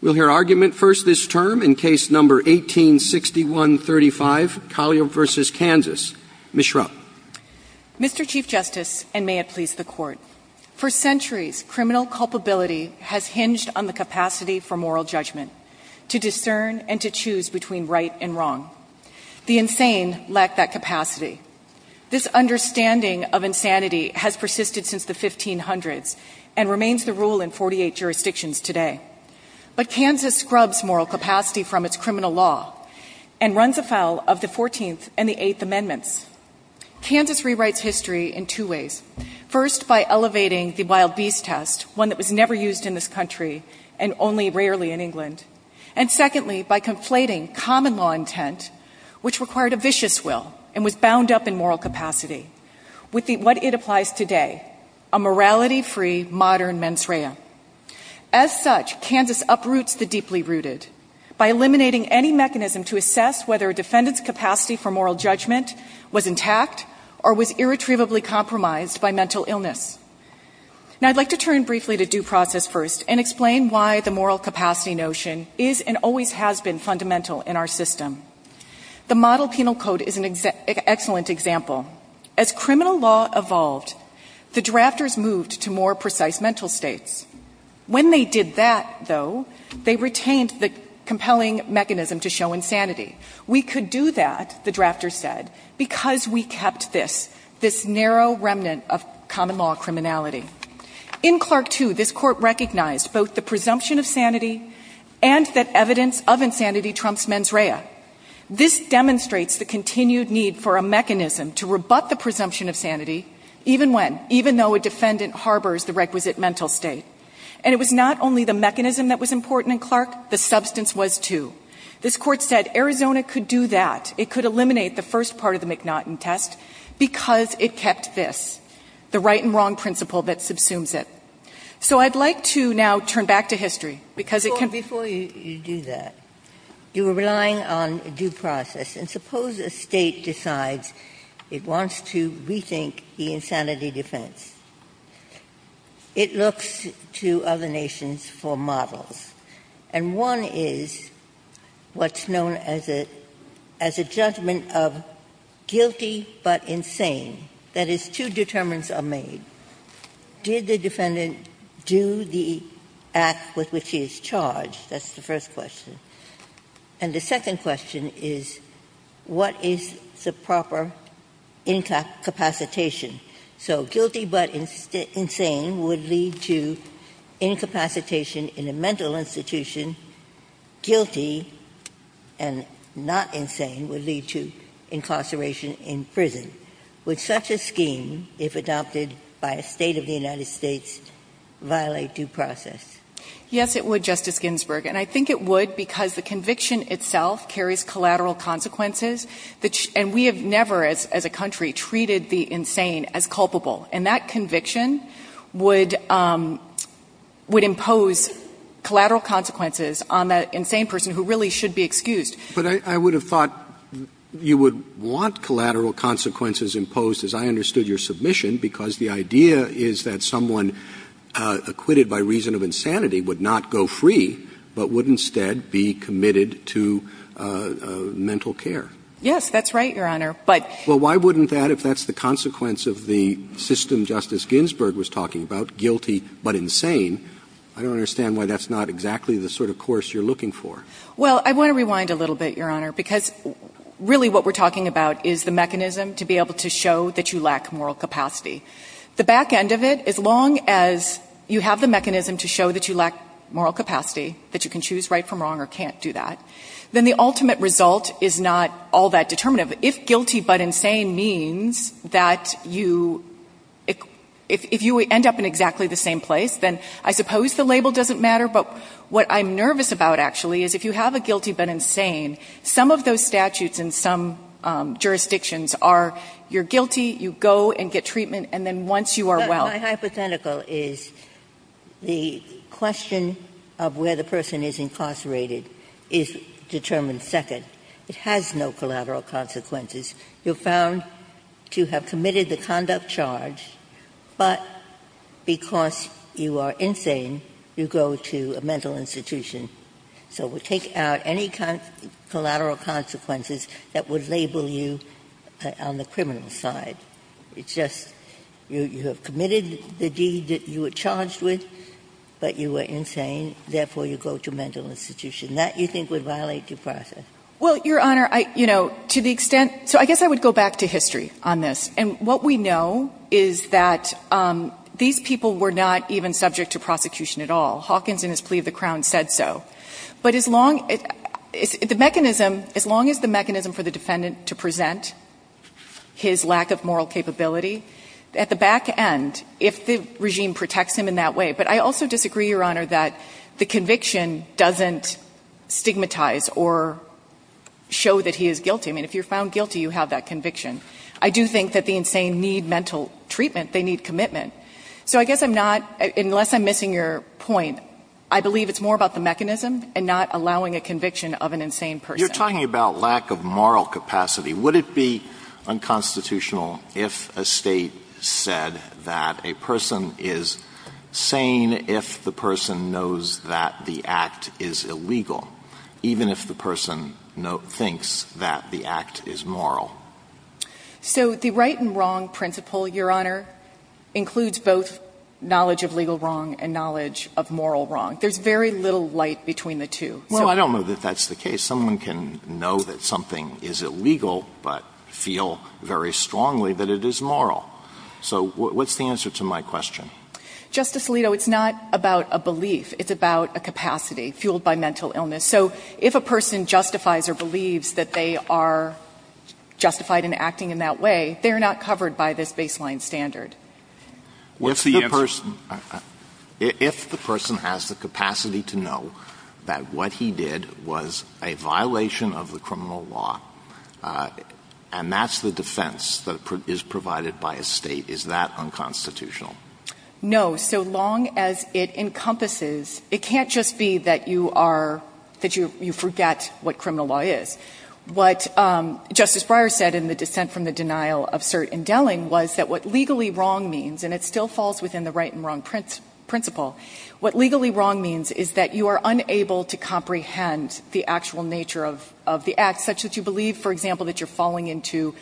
We'll hear argument first this term in case number 1861-35, Collier v. Kansas. Ms. Schrupp. Mr. Chief Justice, and may it please the Court, for centuries criminal culpability has hinged on the capacity for moral judgment, to discern and to choose between right and wrong. The insane lack that capacity. This understanding of insanity has persisted since the 1500s and remains the Kansas scrubs moral capacity from its criminal law and runs afoul of the 14th and the 8th amendments. Kansas rewrites history in two ways. First, by elevating the wild beast test, one that was never used in this country and only rarely in England. And secondly, by conflating common law intent, which required a vicious will and was bound up in moral capacity with what it applies today, a morality-free modern mens rea. As such, Kansas uproots the deeply rooted by eliminating any mechanism to assess whether a defendant's capacity for moral judgment was intact or was irretrievably compromised by mental illness. Now I'd like to turn briefly to due process first and explain why the moral capacity notion is and always has been fundamental in our system. The model penal code is an excellent example. As criminal law evolved, the drafters moved to more precise mental states. When they did that, though, they retained the compelling mechanism to show insanity. We could do that, the drafters said, because we kept this, this narrow remnant of common law criminality. In Clark too, this court recognized both the presumption of sanity and that evidence of insanity trumps mens rea. This demonstrates the continued need for a mechanism to rebut the presumption of sanity, even when, even though a defendant harbors the requisite mental state. And it was not only the mechanism that was important in Clark, the substance was too. This court said Arizona could do that. It could eliminate the first part of the McNaughton test because it kept this, the right and wrong principle that subsumes it. So I'd like to now turn back to history, because it can be Before you do that, you are relying on due process. And suppose a State decides it wants to rethink the insanity defense. It looks to other nations for models. And one is what's known as a judgment of guilty but insane. That is, two determinants are made. Did the defendant do the act with which he is charged? That's the first question. And the second question is, what is the proper incapacitation? So guilty but insane would lead to incapacitation in a mental institution. Guilty and not insane would lead to incarceration in prison. Would such a scheme, if adopted by a State of the United States, violate due process? Yes, it would, Justice Ginsburg. And I think it would because the conviction itself carries collateral consequences, and we have never, as a country, treated the insane as culpable. And that conviction would impose collateral consequences on that insane person who really should be excused. But I would have thought you would want collateral consequences imposed, as I understood your submission, because the idea is that someone acquitted by reason of insanity would not go free, but would instead be committed to mental care. Yes, that's right, Your Honor. But Well, why wouldn't that, if that's the consequence of the system Justice Ginsburg was talking about, guilty but insane, I don't understand why that's not exactly the sort of course you're looking for. Well, I want to rewind a little bit, Your Honor, because really what we're talking about is the mechanism to be able to show that you lack moral capacity. The back end of it, as long as you have the mechanism to show that you lack moral capacity, that you can choose right from wrong or can't do that, then the ultimate result is not all that determinative. If guilty but insane means that you – if you end up in exactly the same place, then I suppose the label doesn't matter. But what I'm nervous about, actually, is if you have a guilty but insane, some of those statutes in some jurisdictions are you're guilty, you go and get treatment, and then once you are well. But my hypothetical is the question of where the person is incarcerated is determined by the fact that, first and second, it has no collateral consequences. You're found to have committed the conduct charge, but because you are insane, you go to a mental institution. So we take out any kind of collateral consequences that would label you on the criminal side. It's just you have committed the deed that you were charged with, but you were insane, therefore you go to a mental institution. That, you think, would violate your process? Well, Your Honor, I – you know, to the extent – so I guess I would go back to history on this. And what we know is that these people were not even subject to prosecution at all. Hawkins, in his plea to the Crown, said so. But as long – the mechanism – as long as the mechanism for the defendant to present his lack of moral capability at the back end, if the regime protects him in that way – but I also disagree, Your Honor, that the conviction doesn't stigmatize or show that he is guilty. I mean, if you're found guilty, you have that conviction. I do think that the insane need mental treatment. They need commitment. So I guess I'm not – unless I'm missing your point, I believe it's more about the mechanism and not allowing a conviction of an insane person. You're talking about lack of moral capacity. Would it be unconstitutional if a State said that a person is sane if the person knows that the act is illegal, even if the person thinks that the act is moral? So the right and wrong principle, Your Honor, includes both knowledge of legal wrong and knowledge of moral wrong. There's very little light between the two. Well, I don't know that that's the case. Someone can know that something is illegal but feel very strongly that it is moral. So what's the answer to my question? Justice Alito, it's not about a belief. It's about a capacity fueled by mental illness. So if a person justifies or believes that they are justified in acting in that way, they're not covered by this baseline standard. What's the answer? If the person has the capacity to know that what he did was a violation of the criminal law, and that's the defense that is provided by a State, is that unconstitutional? No. So long as it encompasses — it can't just be that you are — that you forget what criminal law is. What Justice Breyer said in the dissent from the denial of cert indeling was that what legally wrong means — and it still falls within the right and wrong principle — what legally wrong means is that you are unable to comprehend the actual nature of the act, such that you believe, for example, that you're falling into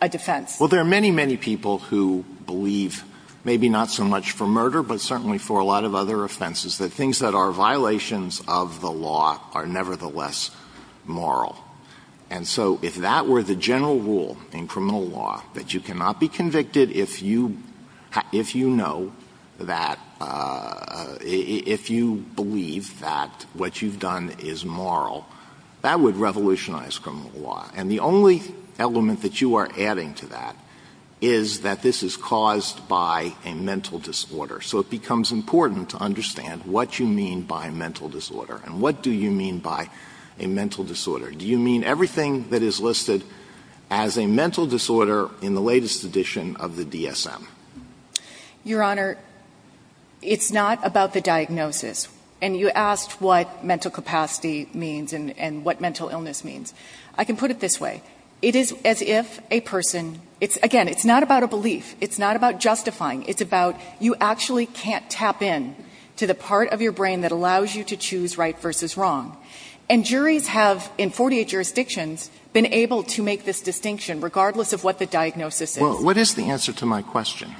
a defense. Well, there are many, many people who believe — maybe not so much for murder, but certainly for a lot of other offenses — that things that are violations of the law are nevertheless moral. And so if that were the general rule in criminal law, that you cannot be convicted if you know that — if you believe that what you've done is moral, that would revolutionize criminal law. And the only element that you are adding to that is that this is caused by a mental disorder. So it becomes important to understand what you mean by mental disorder and what do you mean by a mental disorder. Do you mean everything that is listed as a mental disorder in the latest edition of the DSM? Your Honor, it's not about the diagnosis. And you asked what mental capacity means and what mental illness means. I can put it this way. It is as if a person — again, it's not about a belief. It's not about justifying. It's about you actually can't tap in to the part of your brain that allows you to choose right versus wrong. And juries have, in 48 jurisdictions, been able to make this distinction, regardless of what the diagnosis is. What is the answer to my question?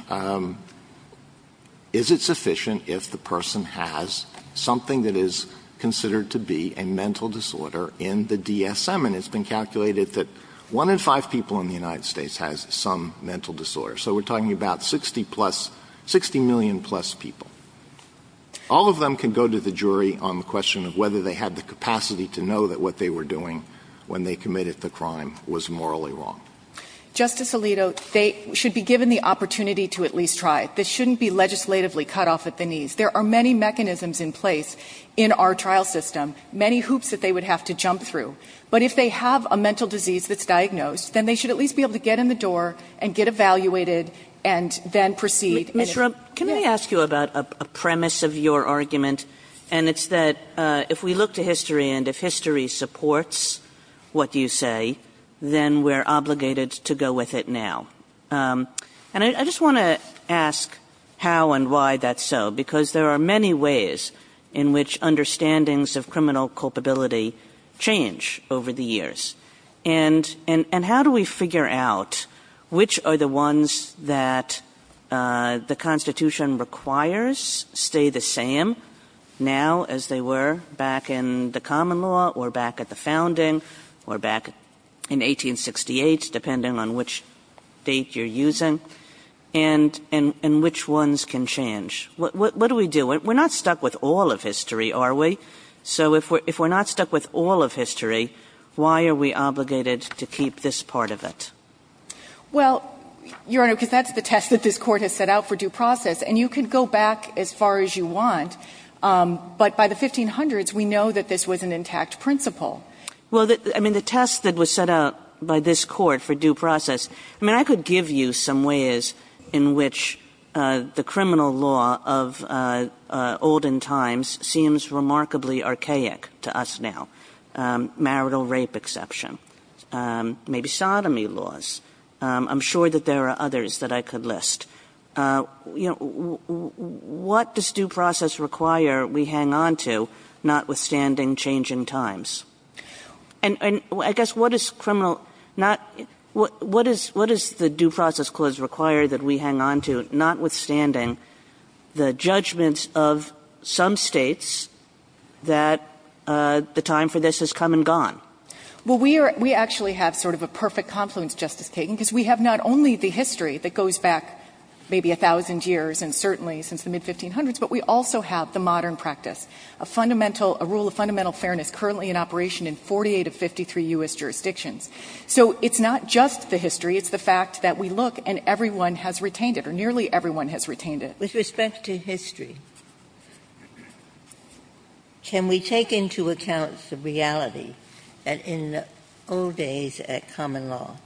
Is it sufficient if the person has something that is considered to be a mental disorder in the DSM? And it's been calculated that one in five people in the United States has some mental disorder. So we're talking about 60 plus — 60 million plus people. All of them can go to the jury on the question of whether they had the capacity to know that what they were doing when they committed the crime was morally wrong. Justice Alito, they should be given the opportunity to at least try. This shouldn't be legislatively cut off at the knees. There are many mechanisms in place in our trial system, many hoops that they would have to jump through. But if they have a mental disease that's diagnosed, then they should at least be able to get in the door and get evaluated and then proceed. Ms. Rupp, can I ask you about a premise of your argument? And it's that if we look to the criminal justice system, there are many ways in which criminal culpability can change over the years. And how do we figure out which are the ones that the Constitution requires stay the same now as they were back in the common law or back at the founding or back in 1868, depending on which date you're using, and which ones can change? What do we do? We're not stuck with all of history, are we? So if we're not stuck with all of history, why are we obligated to keep this part of it? Well, Your Honor, because that's the test that this Court has set out for due process. And you can go back as far as you want, but by the 1500s, we know that this was an intact principle. Well, I mean, the test that was set out by this Court for due process, I mean, I could give you some ways in which the criminal law of olden times seems remarkably archaic to us now, marital rape exception, maybe sodomy laws. I'm sure that there are others that I could list. You know, what does due process require we hang on to, notwithstanding changing times? And I guess what does criminal not – what does the due process clause require that we hang on to, notwithstanding the judgments of some states that the time for this has come and gone? Well, we actually have sort of a perfect confluence, Justice Kagan, because we have not only the history that goes back maybe a thousand years and certainly since the mid-1500s, but we also have the modern practice, a fundamental – a rule of fundamental fairness currently in operation in 48 of 53 U.S. jurisdictions. So it's not just the history. It's the fact that we look, and everyone has retained it, or nearly everyone has retained it. With respect to history, can we take into account the reality that in the old days at common law,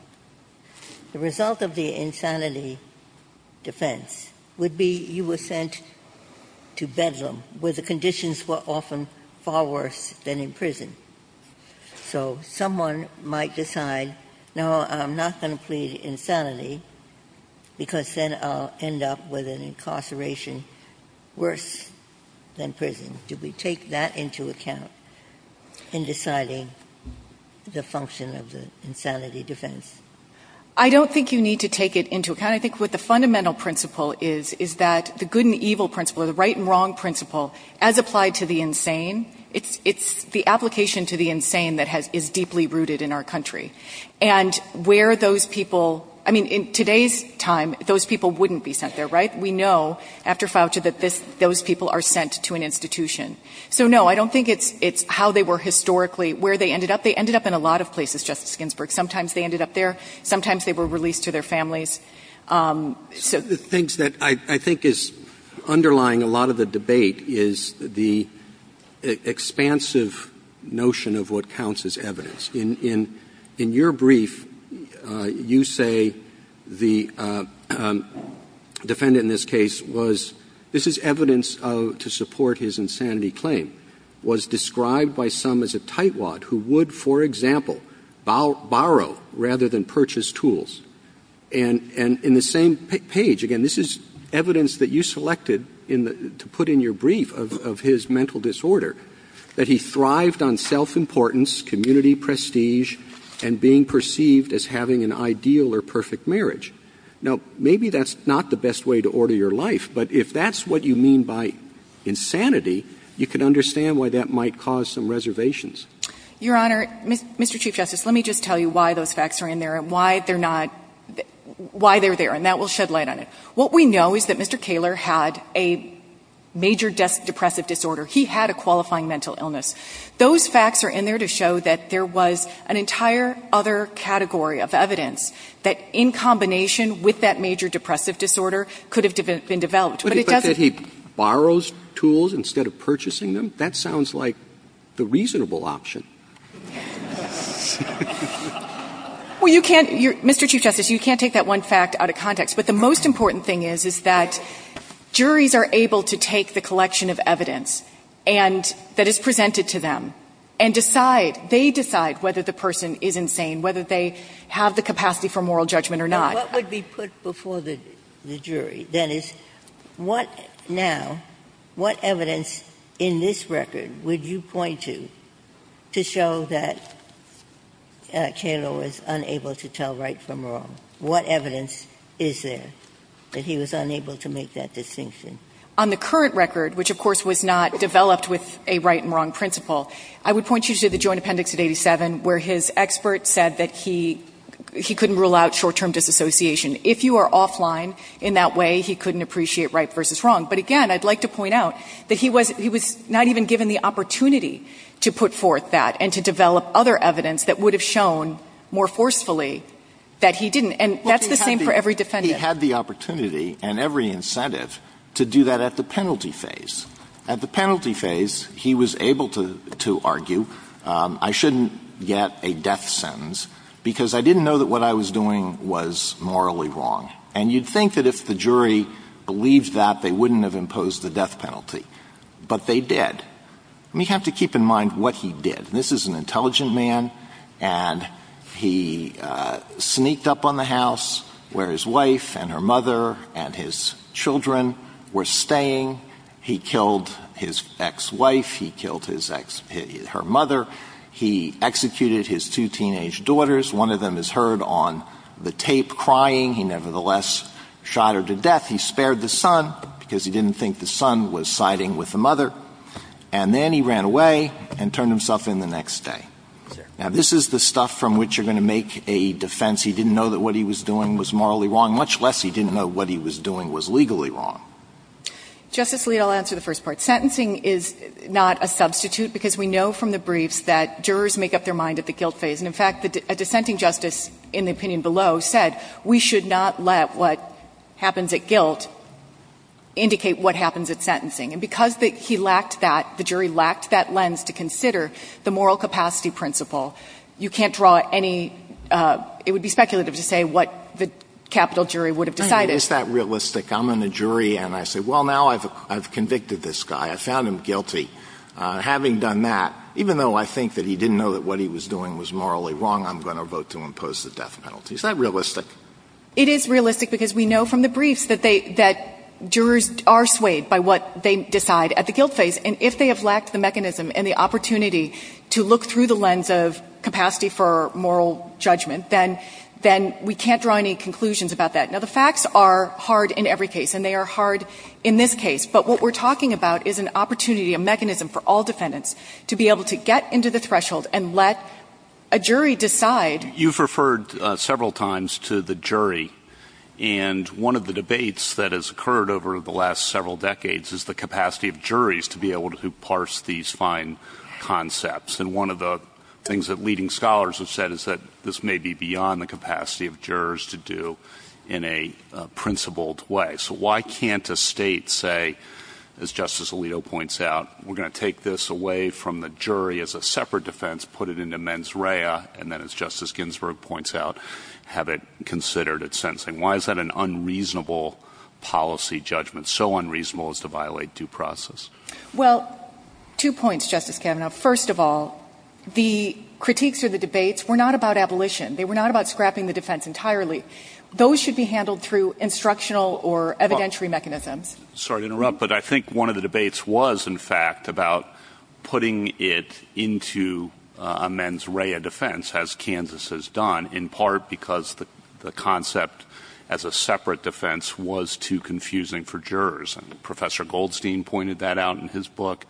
the result of the insanity defense would be you were sent to prison to bedlam, where the conditions were often far worse than in prison? So someone might decide, no, I'm not going to plead insanity, because then I'll end up with an incarceration worse than prison. Do we take that into account in deciding the function of the insanity defense? I don't think you need to take it into account. I think what the fundamental principle is, is that the good and evil principle, or the right and wrong principle, as applied to the insane, it's the application to the insane that has – is deeply rooted in our country. And where those people – I mean, in today's time, those people wouldn't be sent there, right? We know, after Fauci, that this – those people are sent to an institution. So, no, I don't think it's how they were historically where they ended up. They ended up in a lot of places, Justice Ginsburg. Sometimes they ended up there. Sometimes they were released to their families. The things that I think is underlying a lot of the debate is the expansive notion of what counts as evidence. In your brief, you say the defendant in this case was – this is evidence to support his insanity claim – was described by some as a tightwad who would, for example, borrow rather than purchase tools. And in the same page – again, this is evidence that you selected to put in your brief of his mental disorder – that he thrived on self-importance, community prestige, and being perceived as having an ideal or perfect marriage. Now, maybe that's not the best way to order your life, but if that's what you mean by insanity, you can understand why that Your Honor, Mr. Chief Justice, let me just tell you why those facts are in there and why they're not – why they're there, and that will shed light on it. What we know is that Mr. Kaler had a major depressive disorder. He had a qualifying mental illness. Those facts are in there to show that there was an entire other category of evidence that, in combination with that major depressive disorder, could have been developed. But it doesn't – But he borrows tools instead of purchasing them? That sounds like the reasonable option. Well, you can't – Mr. Chief Justice, you can't take that one fact out of context. But the most important thing is, is that juries are able to take the collection of evidence and – that is presented to them and decide – they decide whether the person is insane, whether they have the capacity for moral judgment or not. Now, what would be put before the jury? That is, what – now, what evidence in this record to show that Kaler was unable to tell right from wrong? What evidence is there that he was unable to make that distinction? On the current record, which of course was not developed with a right and wrong principle, I would point you to the Joint Appendix of 87, where his expert said that he – he couldn't rule out short-term disassociation. If you are offline in that way, he couldn't appreciate right versus wrong. But again, I'd like to point out that he was – he was not even given the opportunity to put forth that and to develop other evidence that would have shown more forcefully that he didn't. And that's the same for every defendant. He had the opportunity and every incentive to do that at the penalty phase. At the penalty phase, he was able to – to argue, I shouldn't get a death sentence because I didn't know that what I was doing was morally wrong. And you'd think that if the jury believed that, they wouldn't have imposed the death penalty. But they did. We have to keep in mind what he did. This is an intelligent man, and he sneaked up on the house where his wife and her mother and his children were staying. He killed his ex-wife. He killed his ex – her mother. He executed his two teenage daughters. One of them is heard on the tape crying. He nevertheless shot her to death. He spared the son because he didn't think the son was siding with the mother. And then he ran away and turned himself in the next day. Now, this is the stuff from which you're going to make a defense he didn't know that what he was doing was morally wrong, much less he didn't know what he was doing was legally wrong. Justice Alito, I'll answer the first part. Sentencing is not a substitute because we know from the briefs that jurors make up their mind at the guilt phase. And, in fact, the sentencing justice in the opinion below said we should not let what happens at guilt indicate what happens at sentencing. And because he lacked that, the jury lacked that lens to consider the moral capacity principle, you can't draw any – it would be speculative to say what the capital jury would have decided. It's not realistic. I'm in a jury, and I say, well, now I've convicted this guy. I found him guilty. Having done that, even though I think that he didn't know that what he was doing was morally wrong, I'm going to vote to impose the death penalty. Is that realistic? It is realistic because we know from the briefs that they – that jurors are swayed by what they decide at the guilt phase. And if they have lacked the mechanism and the opportunity to look through the lens of capacity for moral judgment, then – then we can't draw any conclusions about that. Now, the facts are hard in every case, and they are hard in this case. But what we're talking about is an opportunity, a mechanism for all defendants to be able to get into the threshold and let a jury decide. You've referred several times to the jury, and one of the debates that has occurred over the last several decades is the capacity of juries to be able to parse these fine concepts. And one of the things that leading scholars have said is that this may be beyond the capacity of jurors to do in a principled way. So why can't a state say, as Justice Alito points out, we're going to take this away from the jury as a separate defense, put it into mens rea, and then, as Justice Ginsburg points out, have it considered at sentencing? Why is that an unreasonable policy judgment, so unreasonable as to violate due process? Well, two points, Justice Kavanaugh. First of all, the critiques or the debates were not about abolition. They were not about scrapping the defense entirely. Those should be handled through instructional or evidentiary mechanisms. Sorry to interrupt, but I think one of the debates was, in fact, about putting it into a mens rea defense, as Kansas has done, in part because the concept as a separate defense was too confusing for jurors. Professor Goldstein pointed that out in his book,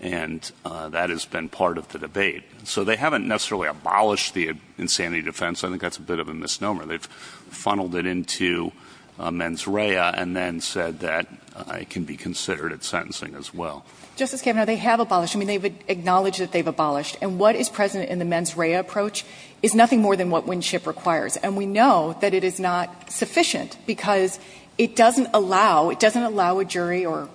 and that has been part of the debate. So they haven't necessarily abolished the insanity defense. I think that's a bit of a misnomer. They've funneled it into mens rea and then said that it can be considered at sentencing as well. Justice Kavanaugh, they have abolished. I mean, they've acknowledged that they've abolished. And what is present in the mens rea approach is nothing more than what Winship requires, and we know that it is not sufficient because it doesn't allow, it doesn't allow a jury or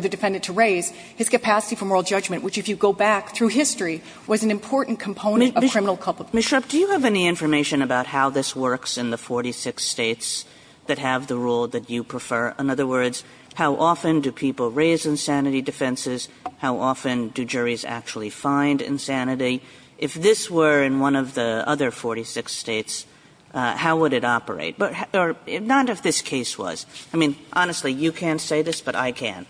the defendant to raise his capacity for moral judgment, which, if you go back through history, was an important component of criminal culpability. Ms. Shrupp, do you have any information about how this works in the 46 States that have the rule that you prefer? In other words, how often do people raise insanity defenses? How often do juries actually find insanity? If this were in one of the other 46 States, how would it operate? Or not if this case was. I mean, honestly, you can't say this, but I can.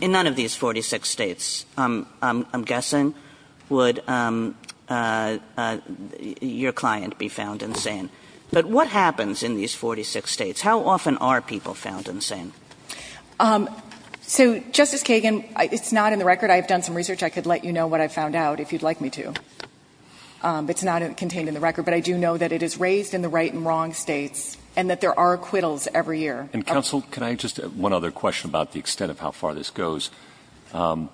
In none of these 46 States, I'm guessing, would your client be found insane. But what happens in these 46 States? How often are people found insane? So, Justice Kagan, it's not in the record. I have done some research. I could let you know what I found out if you'd like me to. It's not contained in the record, but I do know that it is raised in the right and wrong States and that there are acquittals every year. And, Counsel, can I just add one other question about the extent of how far this goes? Obviously,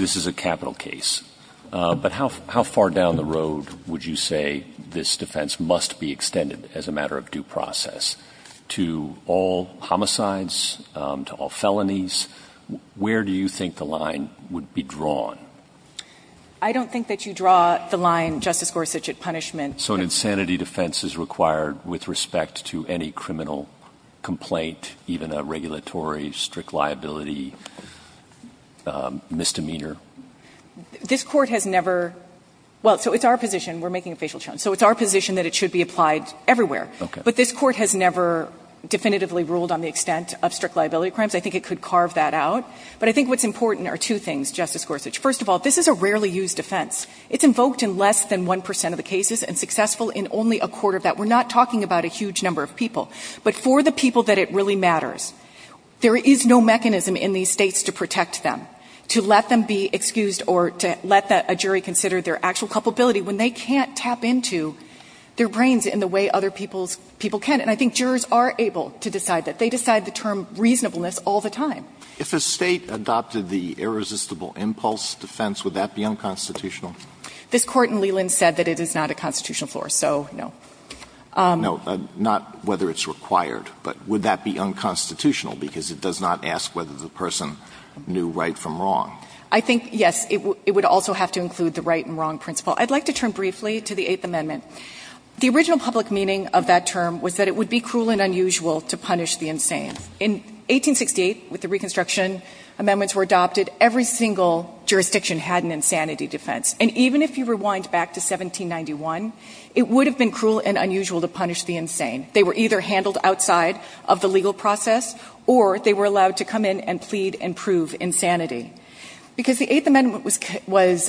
this is a capital case. But how far down the road would you say this defense must be extended as a matter of due process to all homicides, to all felonies? Where do you think the line would be drawn? I don't think that you draw the line, Justice Gorsuch, at punishment. So an insanity defense is required with respect to any criminal complaint, even a regulatory strict liability misdemeanor? This Court has never – well, so it's our position. We're making a facial tone. So it's our position that it should be applied everywhere. Okay. But this Court has never definitively ruled on the extent of strict liability crimes. I think it could carve that out. But I think what's important are two things, Justice Gorsuch. First of all, this is a rarely used defense. It's invoked in less than 1 percent of the cases and successful in only a quarter of that. We're not talking about a huge number of people. But for the people that it really matters, there is no mechanism in these States to protect them, to let them be excused or to let a jury consider their actual culpability when they can't tap into their brains in the way other people's people can. And I think jurors are able to decide that. They decide the term reasonableness all the time. If a State adopted the irresistible impulse defense, would that be unconstitutional? This Court in Leland said that it is not a constitutional floor, so no. No. Not whether it's required. But would that be unconstitutional, because it does not ask whether the person knew right from wrong? I think, yes. It would also have to include the right and wrong principle. I'd like to turn briefly to the Eighth Amendment. The original public meaning of that term was that it would be cruel and unusual to punish the insane. In 1868, with the Reconstruction, amendments were adopted. Every single jurisdiction had an insanity defense. And even if you rewind back to 1791, it would have been cruel and unusual to punish the insane. They were either handled outside of the legal process or they were allowed to come in and plead and prove insanity. Because the Eighth Amendment was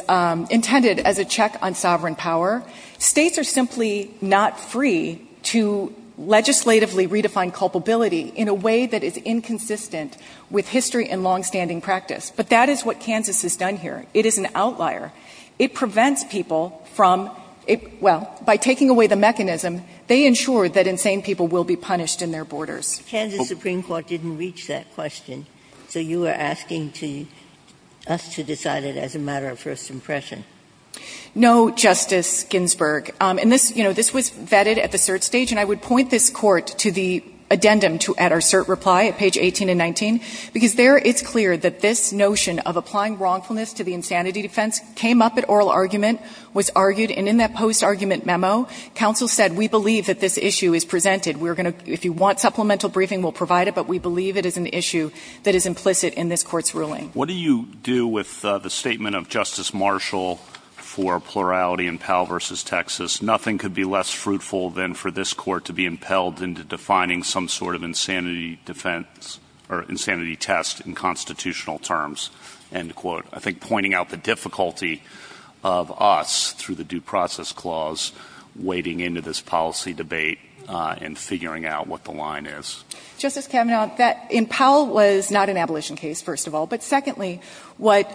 intended as a check on sovereign power, States are simply not free to legislatively redefine culpability in a way that is inconsistent with history and longstanding practice. But that is what Kansas has done here. It is an outlier. It prevents people from – well, by taking away the mechanism, they ensure that insane people will be punished in their borders. Ginsburg. Kansas Supreme Court didn't reach that question, so you are asking to – us to decide it as a matter of first impression. No, Justice Ginsburg. And this, you know, this was vetted at the cert stage, and I would point this Court to the addendum at our cert reply at page 18 and 19. Because there it's clear that this notion of applying wrongfulness to the insanity defense came up at oral argument, was argued, and in that post-argument memo, counsel said, we believe that this issue is presented. We're going to – if you want supplemental briefing, we'll provide it. But we believe it is an issue that is implicit in this Court's ruling. What do you do with the statement of Justice Marshall for plurality in Powell v. Texas? Nothing could be less fruitful than for this Court to be impelled into defining some sort of insanity defense – or insanity test in constitutional terms, end quote. I think pointing out the difficulty of us, through the Due Process Clause, wading into this policy debate and figuring out what the line is. Justice Kavanaugh, that in Powell was not an abolition case, first of all. But secondly, what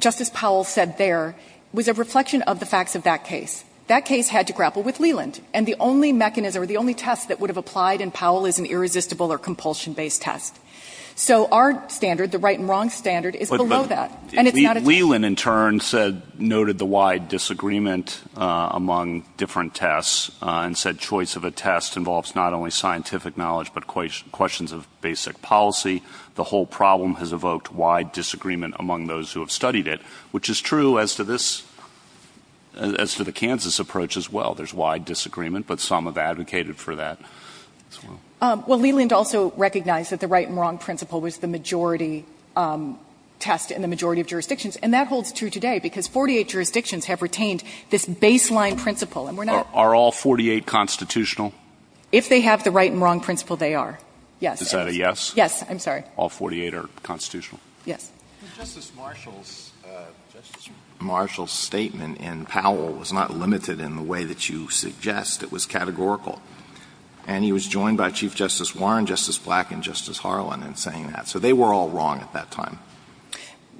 Justice Powell said there was a reflection of the facts of that case. That case had to grapple with Leland, and the only mechanism or the only test that would have applied in Powell is an irresistible or compulsion-based test. So our standard, the right and wrong standard, is below that. And it's not a test. But Leland, in turn, said – noted the wide disagreement among different tests and said choice of a test involves not only scientific knowledge but questions of basic policy. The whole problem has evoked wide disagreement among those who have studied it, which is true as to this – as to the Kansas approach as well. There's wide disagreement, but some have advocated for that as well. Well, Leland also recognized that the right and wrong principle was the majority test in the majority of jurisdictions. And that holds true today because 48 jurisdictions have retained this baseline principle. And we're not – Are all 48 constitutional? If they have the right and wrong principle, they are, yes. Is that a yes? Yes. I'm sorry. All 48 are constitutional? Yes. Justice Marshall's – Justice Marshall's statement in Powell was not limited in the way that you suggest. It was categorical. And he was joined by Chief Justice Warren, Justice Black, and Justice Harlan in saying that. So they were all wrong at that time.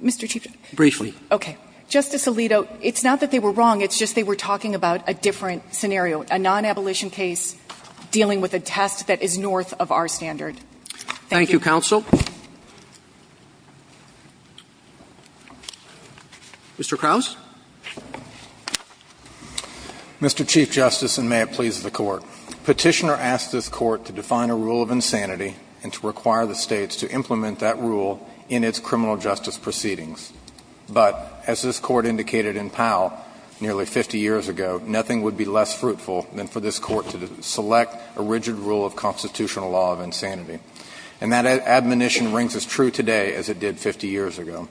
Mr. Chief Justice. Briefly. Okay. Justice Alito, it's not that they were wrong. It's just they were talking about a different scenario, a non-abolition case dealing with a test that is north of our standard. Thank you. Thank you, counsel. Mr. Krauss. Mr. Chief Justice, and may it please the Court. Petitioner asked this Court to define a rule of insanity and to require the States to implement that rule in its criminal justice proceedings. But as this Court indicated in Powell nearly 50 years ago, nothing would be less fruitful than for this Court to select a rigid rule of constitutional law of insanity. And that admonition rings as true today as it did 50 years ago.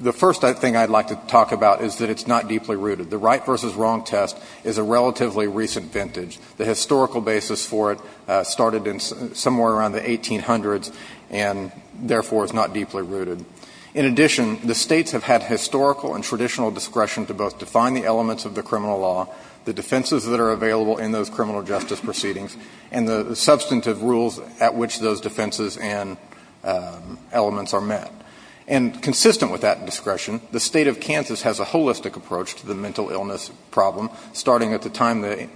The first thing I'd like to talk about is that it's not deeply rooted. The right versus wrong test is a relatively recent vintage. The historical basis for it started somewhere around the 1800s and, therefore, is not deeply rooted. In addition, the States have had historical and traditional discretion to both define the elements of the criminal law, the defenses that are available in those defenses and elements are met. And consistent with that discretion, the State of Kansas has a holistic approach to the mental illness problem, starting at the time the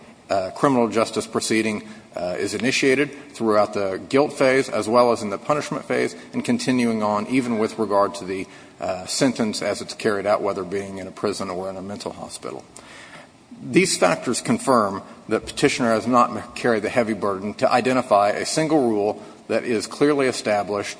criminal justice proceeding is initiated, throughout the guilt phase, as well as in the punishment phase, and continuing on even with regard to the sentence as it's carried out, whether being in a prison or in a mental hospital. These factors confirm that Petitioner has not carried the heavy burden to identify a single rule that is clearly established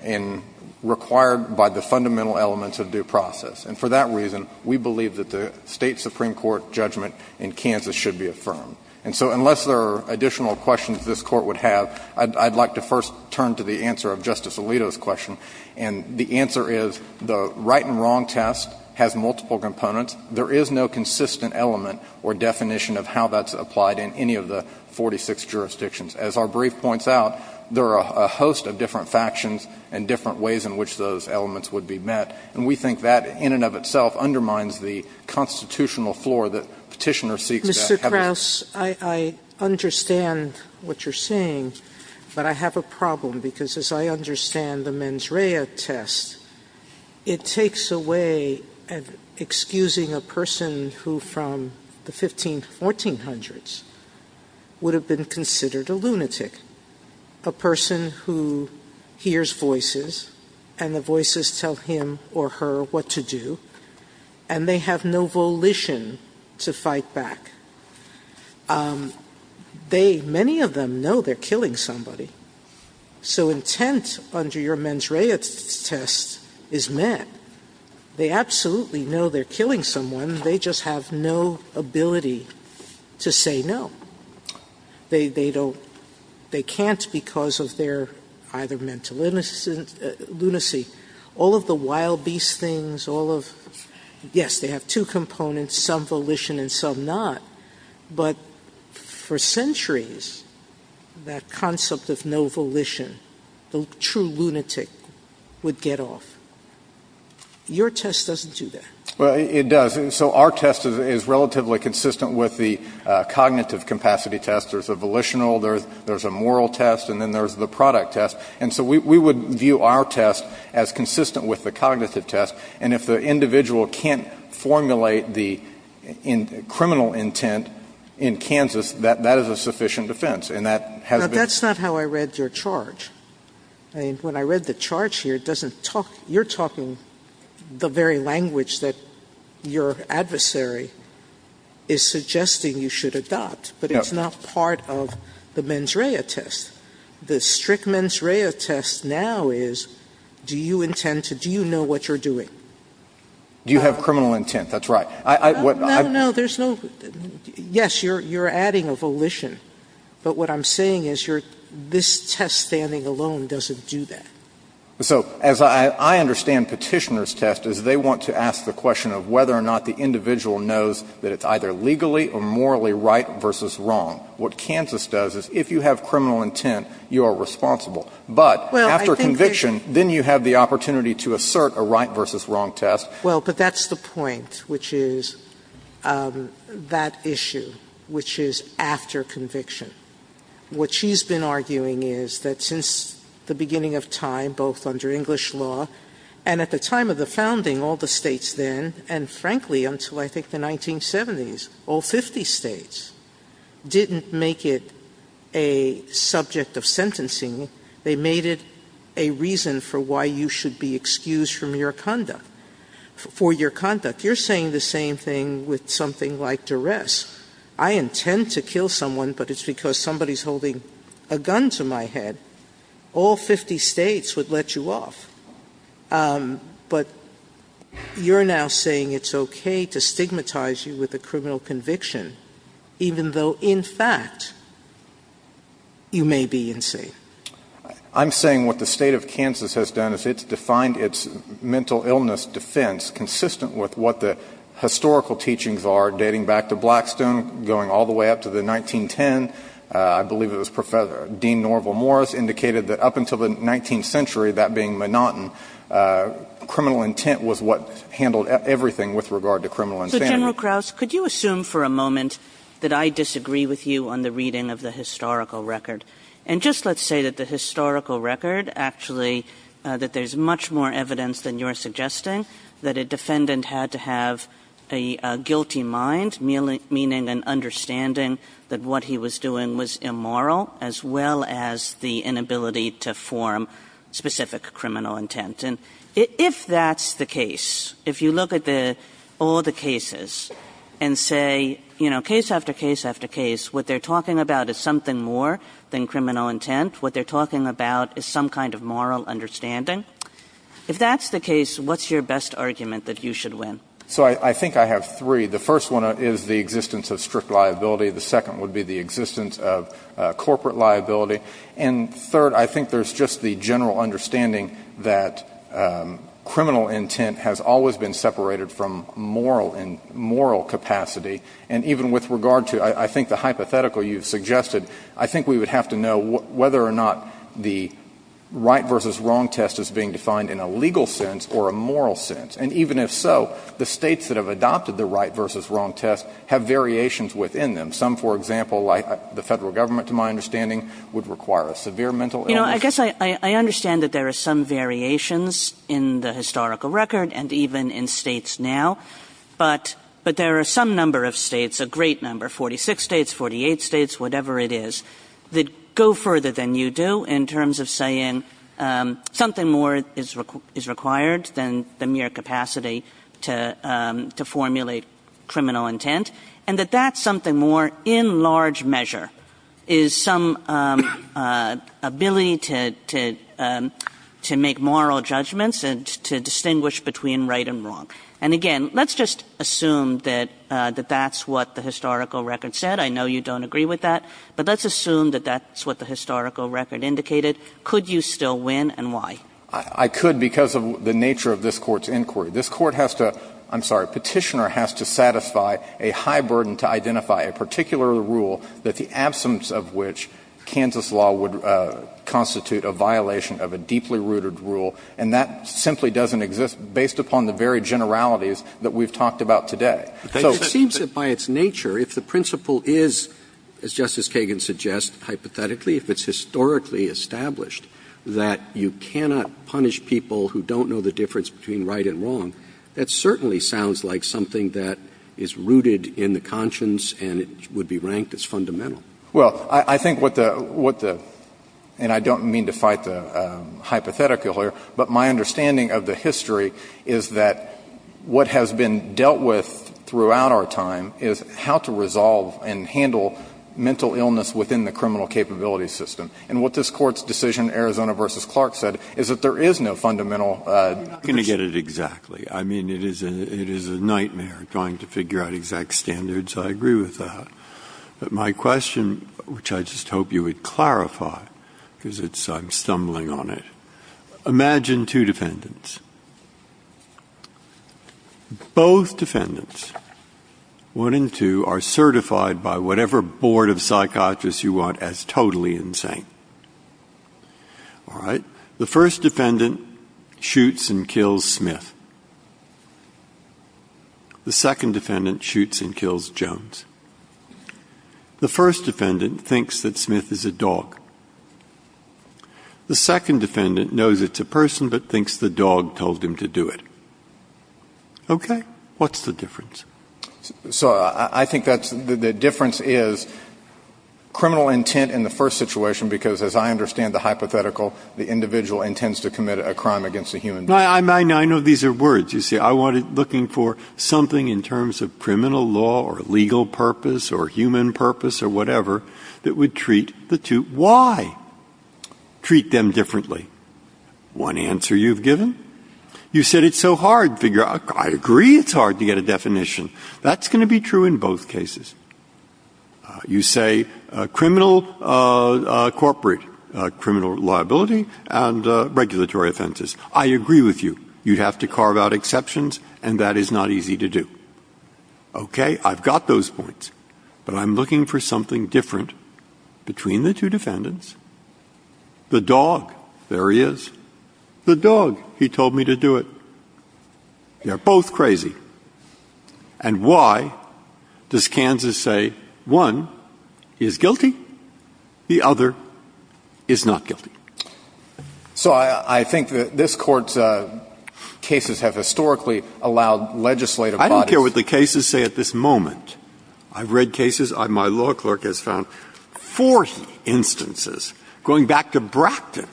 and required by the fundamental elements of due process. And for that reason, we believe that the State Supreme Court judgment in Kansas should be affirmed. And so unless there are additional questions this Court would have, I'd like to first turn to the answer of Justice Alito's question. And the answer is the right and wrong test has multiple components. There is no consistent element or definition of how that's applied in any of the 46 jurisdictions. As our brief points out, there are a host of different factions and different ways in which those elements would be met. And we think that in and of itself undermines the constitutional floor that Petitioner seeks to have. Sotomayor, I understand what you're saying, but I have a problem, because as I understand the mens rea test, it takes away excusing a person who from the 1500s, 1400s, would have been considered a lunatic, a person who hears voices, and the voices tell him or her what to do, and they have no volition to fight back. They, many of them, know they're killing somebody. So intent under your mens rea test is met. They absolutely know they're killing someone, they just have no ability to say no. They don't, they can't because of their either mental lunacy. All of the wild beast things, all of, yes, they have two components, some volition and some not, but for centuries, that concept of no volition, the true lunatic, would get off. Your test doesn't do that. Well, it does. So our test is relatively consistent with the cognitive capacity test. There's a volitional, there's a moral test, and then there's the product test. And so we would view our test as consistent with the cognitive test, and if the individual can't formulate the criminal intent in Kansas, that is a sufficient defense, and that has been ---- But that's not how I read your charge. I mean, when I read the charge here, it doesn't talk, you're talking the very language that your adversary is suggesting you should adopt, but it's not part of the mens rea test. The strict mens rea test now is, do you intend to, do you know what you're doing? Do you have criminal intent? That's right. No, no. There's no, yes, you're adding a volition, but what I'm saying is you're, this test standing alone doesn't do that. So as I understand Petitioner's test is they want to ask the question of whether or not the individual knows that it's either legally or morally right versus wrong. What Kansas does is if you have criminal intent, you are responsible. But after conviction, then you have the opportunity to assert a right versus wrong test. Well, but that's the point, which is that issue, which is after conviction. What she's been arguing is that since the beginning of time, both under English law and at the time of the founding, all the states then, and frankly until I think the 1970s, all 50 states, didn't make it a subject of sentencing. They made it a reason for why you should be excused from your conduct, for your conduct. You're saying the same thing with something like duress. I intend to kill someone, but it's because somebody's holding a gun to my head. All 50 states would let you off. But you're now saying it's okay to stigmatize you with a criminal conviction, even though in fact you may be insane. I'm saying what the state of Kansas has done is it's defined its mental illness defense consistent with what the historical teachings are, dating back to Blackstone, going all the way up to the 1910. I believe it was Dean Norval Morris indicated that up until the 19th century, that being monotonous, criminal intent was what handled everything with regard to criminal insanity. So, General Krauss, could you assume for a moment that I disagree with you on the reading of the historical record? And just let's say that the historical record actually, that there's much more evidence than you're suggesting, that a defendant had to have a guilty mind, meaning an understanding that what he was doing was immoral, as well as the inability to form specific criminal intent. And if that's the case, if you look at all the cases and say, you know, case after case after case, what they're talking about is something more than criminal intent. What they're talking about is some kind of moral understanding. If that's the case, what's your best argument that you should win? So I think I have three. The first one is the existence of strict liability. The second would be the existence of corporate liability. And third, I think there's just the general understanding that criminal intent has always been separated from moral capacity. And even with regard to, I think, the hypothetical you've suggested, I think we would have to know whether or not the right versus wrong test is being defined in a legal sense or a moral sense. And even if so, the States that have adopted the right versus wrong test have variations within them. Some, for example, like the Federal Government, to my understanding, would require a severe mental illness. Kagan. You know, I guess I understand that there are some variations in the historical record and even in States now. But there are some number of States, a great number, 46 States, 48 States, whatever it is, that go further than you do in terms of saying something more is required than the mere capacity to formulate criminal intent, and that that's something more in large measure is some ability to make moral judgments and to distinguish between right and wrong. And, again, let's just assume that that's what the historical record said. I know you don't agree with that. But let's assume that that's what the historical record indicated. Could you still win, and why? I could because of the nature of this Court's inquiry. This Court has to — I'm sorry, Petitioner has to satisfy a high burden to identify a particular rule that the absence of which Kansas law would constitute a violation of a deeply rooted rule, and that simply doesn't exist based upon the very generalities that we've talked about today. Roberts. It seems that by its nature, if the principle is, as Justice Kagan suggests, hypothetically, if it's historically established that you cannot punish people who don't know the difference between right and wrong, that certainly sounds like something that is rooted in the conscience and it would be ranked as fundamental. Well, I think what the — and I don't mean to fight the hypothetical here, but my understanding of the history is that what has been dealt with throughout our time is how to resolve and handle mental illness within the criminal capability system. And what this Court's decision, Arizona v. Clark, said is that there is no fundamental principle. I'm not going to get it exactly. I mean, it is a nightmare trying to figure out exact standards. I agree with that. But my question, which I just hope you would clarify because it's — I'm stumbling on it. Imagine two defendants. Both defendants, one and two, are certified by whatever board of psychiatrists you want as totally insane. All right? The first defendant shoots and kills Smith. The second defendant shoots and kills Jones. The first defendant thinks that Smith is a dog. The second defendant knows it's a person but thinks the dog told him to do it. Okay? What's the difference? So I think that's — the difference is criminal intent in the first situation because, as I understand the hypothetical, the individual intends to commit a crime against a human being. No, I know these are words. You see, I wanted — looking for something in terms of criminal law or legal purpose or human purpose or whatever that would treat the two. Why treat them differently? One answer you've given. You said it's so hard to figure out. I agree it's hard to get a definition. That's going to be true in both cases. You say criminal corporate, criminal liability, and regulatory offenses. I agree with you. You'd have to carve out exceptions, and that is not easy to do. Okay? I've got those points, but I'm looking for something different between the two defendants. The dog, there he is. The dog, he told me to do it. They're both crazy. And why does Kansas say one is guilty, the other is not guilty? So I think that this Court's cases have historically allowed legislative bodies — Breyer, I don't care what the cases say at this moment. I've read cases. My law clerk has found 40 instances, going back to Bracton,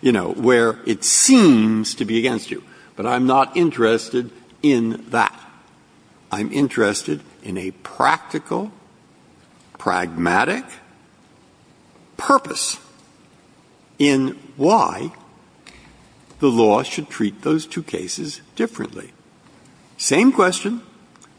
you know, where it seems to be against you. But I'm not interested in that. I'm interested in a practical, pragmatic purpose in why the law should treat those two cases differently. Same question.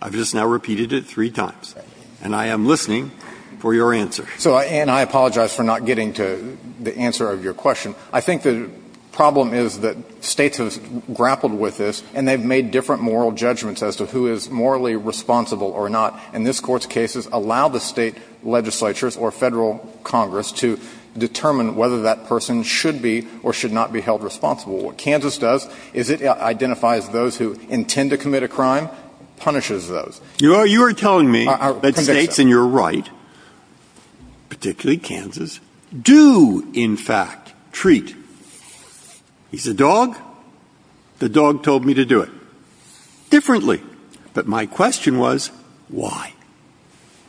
I've just now repeated it three times. And I am listening for your answer. And I apologize for not getting to the answer of your question. I think the problem is that States have grappled with this, and they've made different moral judgments as to who is morally responsible or not. And this Court's cases allow the State legislatures or Federal Congress to determine whether that person should be or should not be held responsible. What Kansas does is it identifies those who intend to commit a crime, punishes those. You are telling me that States, and you're right, particularly Kansas, do, in fact, treat, he's a dog, the dog told me to do it, differently. But my question was, why?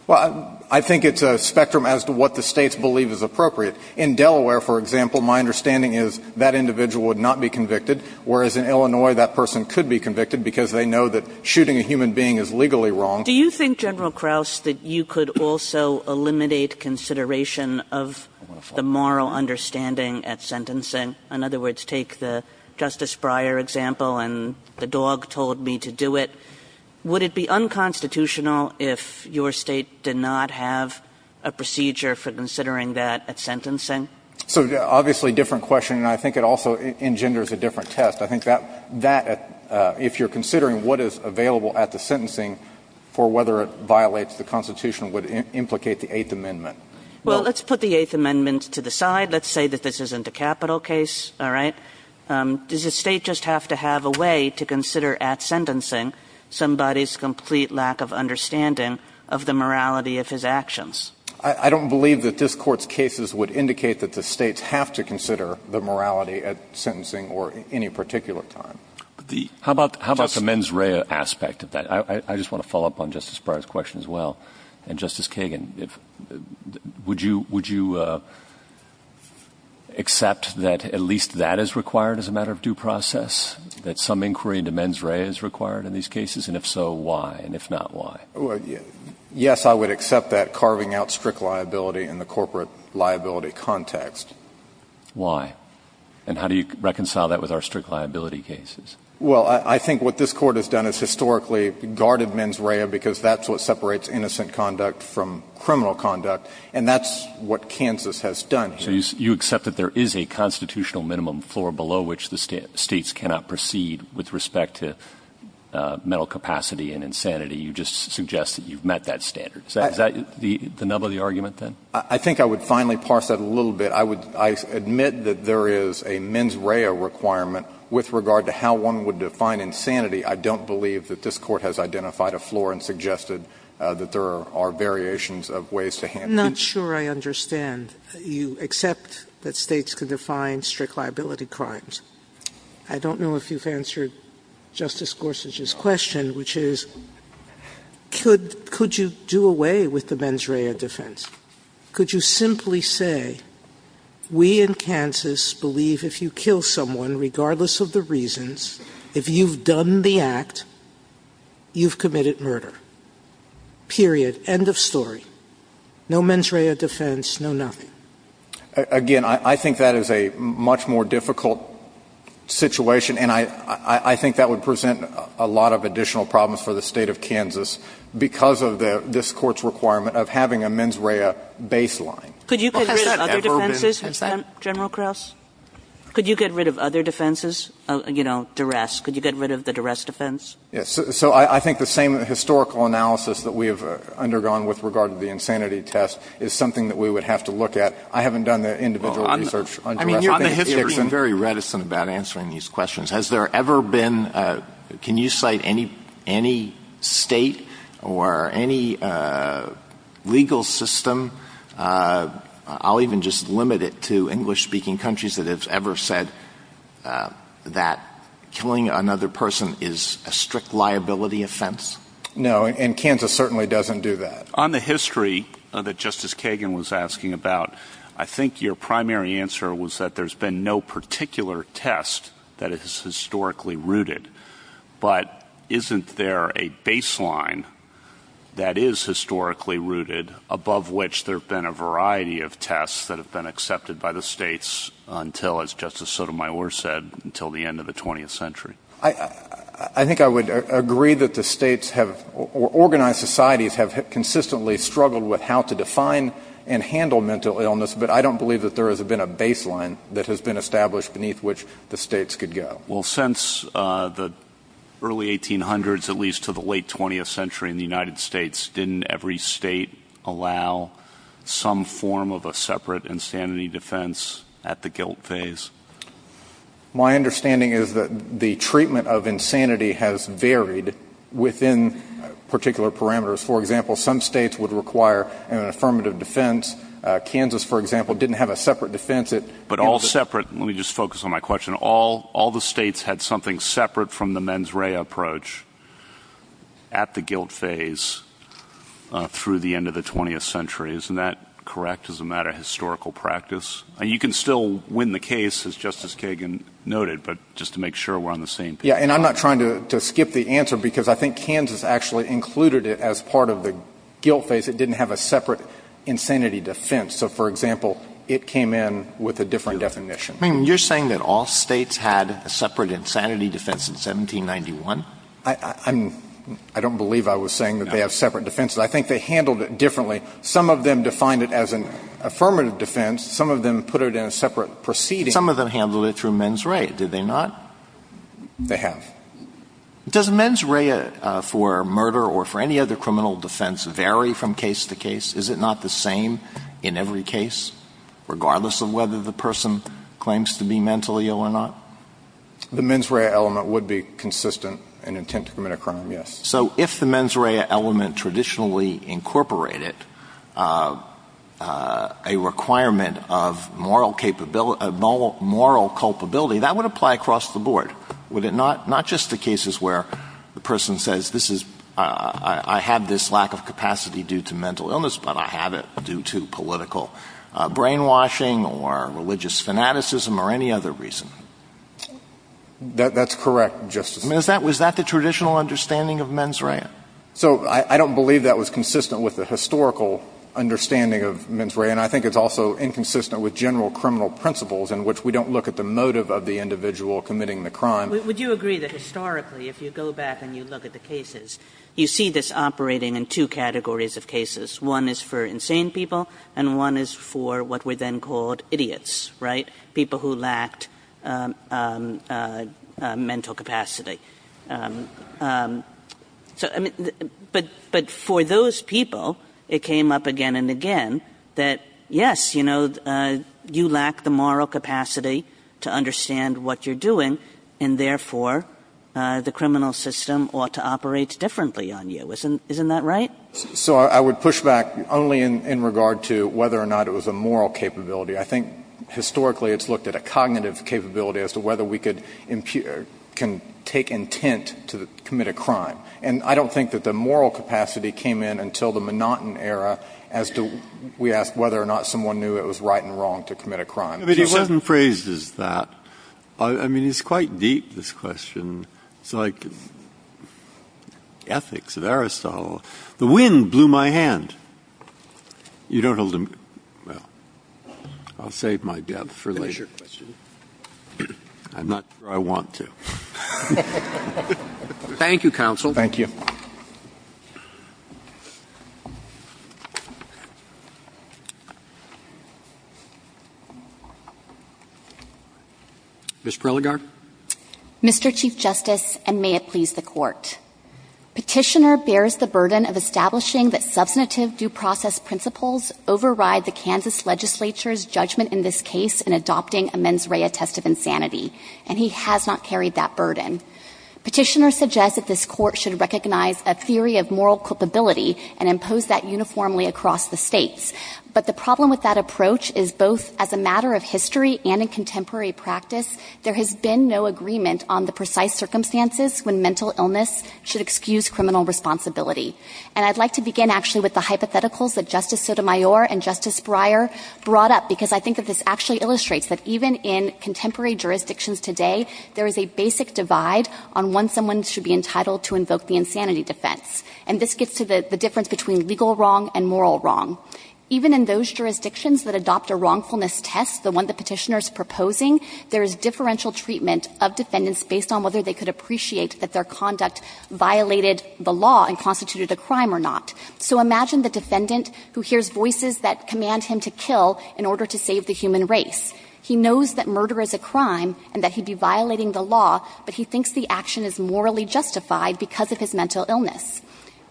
Well, I think it's a spectrum as to what the States believe is appropriate. In Delaware, for example, my understanding is that individual would not be convicted, whereas in Illinois that person could be convicted because they know that shooting a human being is legally wrong. Do you think, General Kraus, that you could also eliminate consideration of the moral understanding at sentencing? In other words, take the Justice Breyer example, and the dog told me to do it. Would it be unconstitutional if your State did not have a procedure for considering that at sentencing? So, obviously, different question, and I think it also engenders a different test. I think that, if you're considering what is available at the sentencing for whether it violates the Constitution, would implicate the Eighth Amendment. Well, let's put the Eighth Amendment to the side. Let's say that this isn't a capital case, all right? Does the State just have to have a way to consider at sentencing somebody's complete lack of understanding of the morality of his actions? I don't believe that this Court's cases would indicate that the States have to consider the morality at sentencing or any particular time. How about the mens rea aspect of that? I just want to follow up on Justice Breyer's question as well. And, Justice Kagan, would you accept that at least that is required as a matter of due process, that some inquiry into mens rea is required in these cases? And if so, why? And if not, why? Yes, I would accept that carving out strict liability in the corporate liability context. Why? And how do you reconcile that with our strict liability cases? Well, I think what this Court has done is historically guarded mens rea because that's what separates innocent conduct from criminal conduct. And that's what Kansas has done here. So you accept that there is a constitutional minimum floor below which the States cannot proceed with respect to mental capacity and insanity. You just suggest that you've met that standard. Is that the nub of the argument, then? I think I would finally parse that a little bit. I would admit that there is a mens rea requirement with regard to how one would define insanity. I don't believe that this Court has identified a floor and suggested that there are variations of ways to handle it. I'm not sure I understand. You accept that States could define strict liability crimes. I don't know if you've answered Justice Gorsuch's question, which is could you do away with the mens rea defense? Could you simply say we in Kansas believe if you kill someone, regardless of the reasons, if you've done the act, you've committed murder. Period. End of story. No mens rea defense, no nothing. Again, I think that is a much more difficult situation, and I think that would present a lot of additional problems for the State of Kansas because of this Court's requirement of having a mens rea baseline. Could you get rid of other defenses, General Krauss? Could you get rid of other defenses, you know, duress? Could you get rid of the duress defense? Yes. So I think the same historical analysis that we have undergone with regard to the individual research on duress. I mean, you're being very reticent about answering these questions. Has there ever been, can you cite any State or any legal system, I'll even just limit it to English-speaking countries that have ever said that killing another person is a strict liability offense? No, and Kansas certainly doesn't do that. On the history that Justice Kagan was asking about, I think your primary answer was that there's been no particular test that is historically rooted. But isn't there a baseline that is historically rooted, above which there have been a variety of tests that have been accepted by the states until, as Justice Sotomayor said, until the end of the 20th century? I think I would agree that the states have, or organized societies have consistently struggled with how to define and handle mental illness. But I don't believe that there has been a baseline that has been established beneath which the states could go. Well, since the early 1800s, at least to the late 20th century in the United States, didn't every state allow some form of a separate insanity defense at the guilt phase? My understanding is that the treatment of insanity has varied within particular parameters. For example, some states would require an affirmative defense. Kansas, for example, didn't have a separate defense. But all separate? Let me just focus on my question. All the states had something separate from the mens rea approach at the guilt phase through the end of the 20th century. Isn't that correct as a matter of historical practice? You can still win the case, as Justice Kagan noted, but just to make sure we're on the same page. Yeah, and I'm not trying to skip the answer because I think Kansas actually included it as part of the guilt phase. It didn't have a separate insanity defense. So, for example, it came in with a different definition. You're saying that all states had a separate insanity defense in 1791? I don't believe I was saying that they have separate defenses. I think they handled it differently. Some of them defined it as an affirmative defense. Some of them put it in a separate proceeding. Some of them handled it through mens rea, did they not? They have. Does mens rea for murder or for any other criminal defense vary from case to case? Is it not the same in every case, regardless of whether the person claims to be mentally ill or not? The mens rea element would be consistent in an attempt to commit a crime, yes. So if the mens rea element traditionally incorporated a requirement of moral culpability, that would apply across the board, would it not? Not just the cases where the person says, I have this lack of capacity due to mental illness, but I have it due to political brainwashing or religious fanaticism or any other reason. That's correct, Justice. Was that the traditional understanding of mens rea? So I don't believe that was consistent with the historical understanding of mens rea, and I think it's also inconsistent with general criminal principles in which we don't look at the motive of the individual committing the crime. Would you agree that historically, if you go back and you look at the cases, you see this operating in two categories of cases. One is for insane people, and one is for what were then called idiots, right, people who lacked mental capacity. So, I mean, but for those people, it came up again and again that, yes, you know, you lack the moral capacity to understand what you're doing, and therefore, the criminal system ought to operate differently on you. Isn't that right? So I would push back only in regard to whether or not it was a moral capability. I think, historically, it's looked at a cognitive capability as to whether we can take intent to commit a crime. And I don't think that the moral capacity came in until the monotone era as to we asked whether or not someone knew it was right and wrong to commit a crime. But he certainly phrases that. I mean, it's quite deep, this question. It's like ethics of Aristotle. The wind blew my hand. You don't hold him? Well, I'll save my death for later. I'm not sure I want to. Thank you, counsel. Thank you. Ms. Prilligar. Mr. Chief Justice, and may it please the Court. Petitioner bears the burden of establishing that substantive due process principles override the Kansas legislature's judgment in this case in adopting a mens rea test of insanity, and he has not carried that burden. Petitioner suggests that this Court should recognize a theory of moral culpability and impose that uniformly across the states. But the problem with that approach is both as a matter of history and in contemporary practice, there has been no agreement on the precise circumstances when mental illness should excuse criminal responsibility. And I'd like to begin, actually, with the hypotheticals that Justice Sotomayor and Justice Breyer brought up, because I think that this actually illustrates that even in contemporary jurisdictions today, there is a basic divide on when someone should be entitled to invoke the insanity defense. And this gets to the difference between legal wrong and moral wrong. Even in those jurisdictions that adopt a wrongfulness test, the one the petitioner is proposing, there is differential treatment of defendants based on whether they could appreciate that their conduct violated the law and constituted a crime or not. So imagine the defendant who hears voices that command him to kill in order to save the human race. He knows that murder is a crime and that he'd be violating the law, but he thinks the action is morally justified because of his mental illness.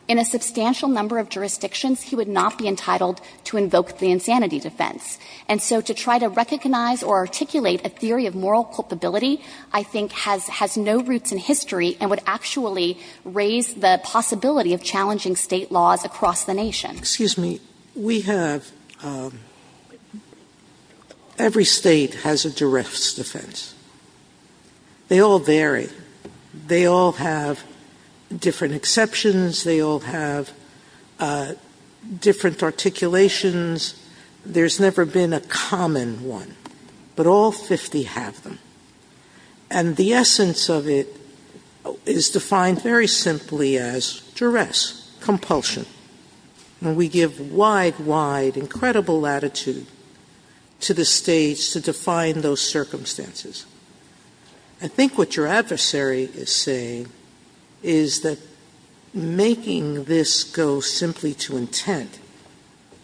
In a substantial number of jurisdictions, he would not be entitled to invoke the insanity defense. And so to try to recognize or articulate a theory of moral culpability, I think, has no roots in history and would actually raise the possibility of challenging State laws across the nation. Sotomayor. Excuse me. We have – every State has a direct defense. They all vary. They all have different exceptions. They all have different articulations. There's never been a common one. But all 50 have them. And the essence of it is defined very simply as duress, compulsion. And we give wide, wide, incredible latitude to the States to define those circumstances. I think what your adversary is saying is that making this go simply to intent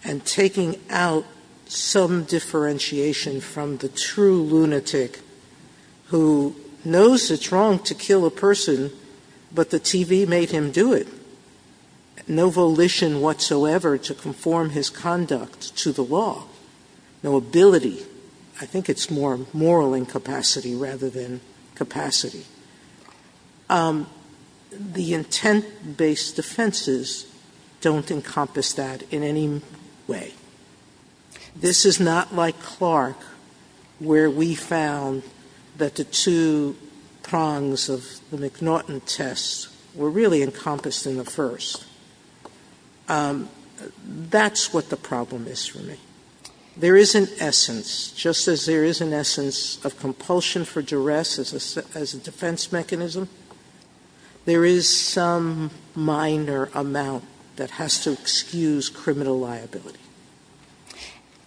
and taking out some differentiation from the true lunatic who knows it's wrong to kill a person, but the TV made him do it. No volition whatsoever to conform his conduct to the law. No ability. I think it's more moral incapacity rather than capacity. The intent-based defenses don't encompass that in any way. This is not like Clark where we found that the two prongs of the McNaughton test were really encompassed in the first. That's what the problem is for me. There is an essence, just as there is an essence of compulsion for duress as a defense mechanism, there is some minor amount that has to excuse criminal liability.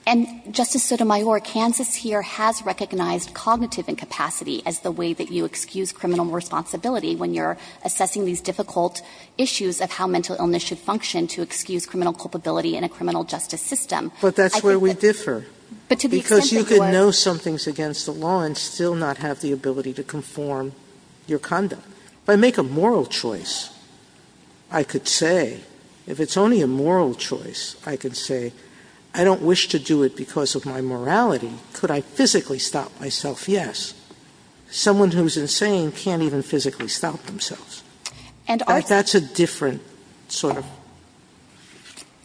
And, Justice Sotomayor, Kansas here has recognized cognitive incapacity as the way that you excuse criminal responsibility when you're assessing these difficult issues of how mental illness should function to excuse criminal culpability in a criminal justice system. But that's where we differ. Because you can know something is against the law and still not have the ability to conform your conduct. If I make a moral choice, I could say, if it's only a moral choice, I could say, I don't wish to do it because of my morality. Could I physically stop myself? Yes. Someone who is insane can't even physically stop themselves. And that's a different sort of.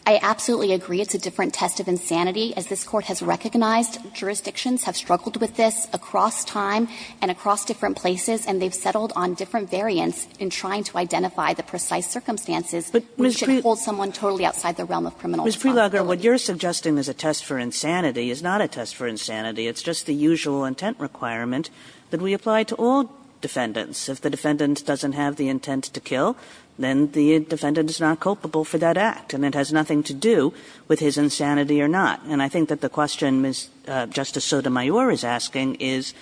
I absolutely agree. It's a different test of insanity. As this Court has recognized, jurisdictions have struggled with this across time and across different places, and they've settled on different variants in trying to identify the precise circumstances which should hold someone totally outside the realm of criminal responsibility. Ms. Freelager, what you're suggesting is a test for insanity is not a test for insanity. It's just the usual intent requirement that we apply to all defendants. If the defendant doesn't have the intent to kill, then the defendant is not culpable for that act. And it has nothing to do with his insanity or not. And I think that the question Justice Sotomayor is asking is,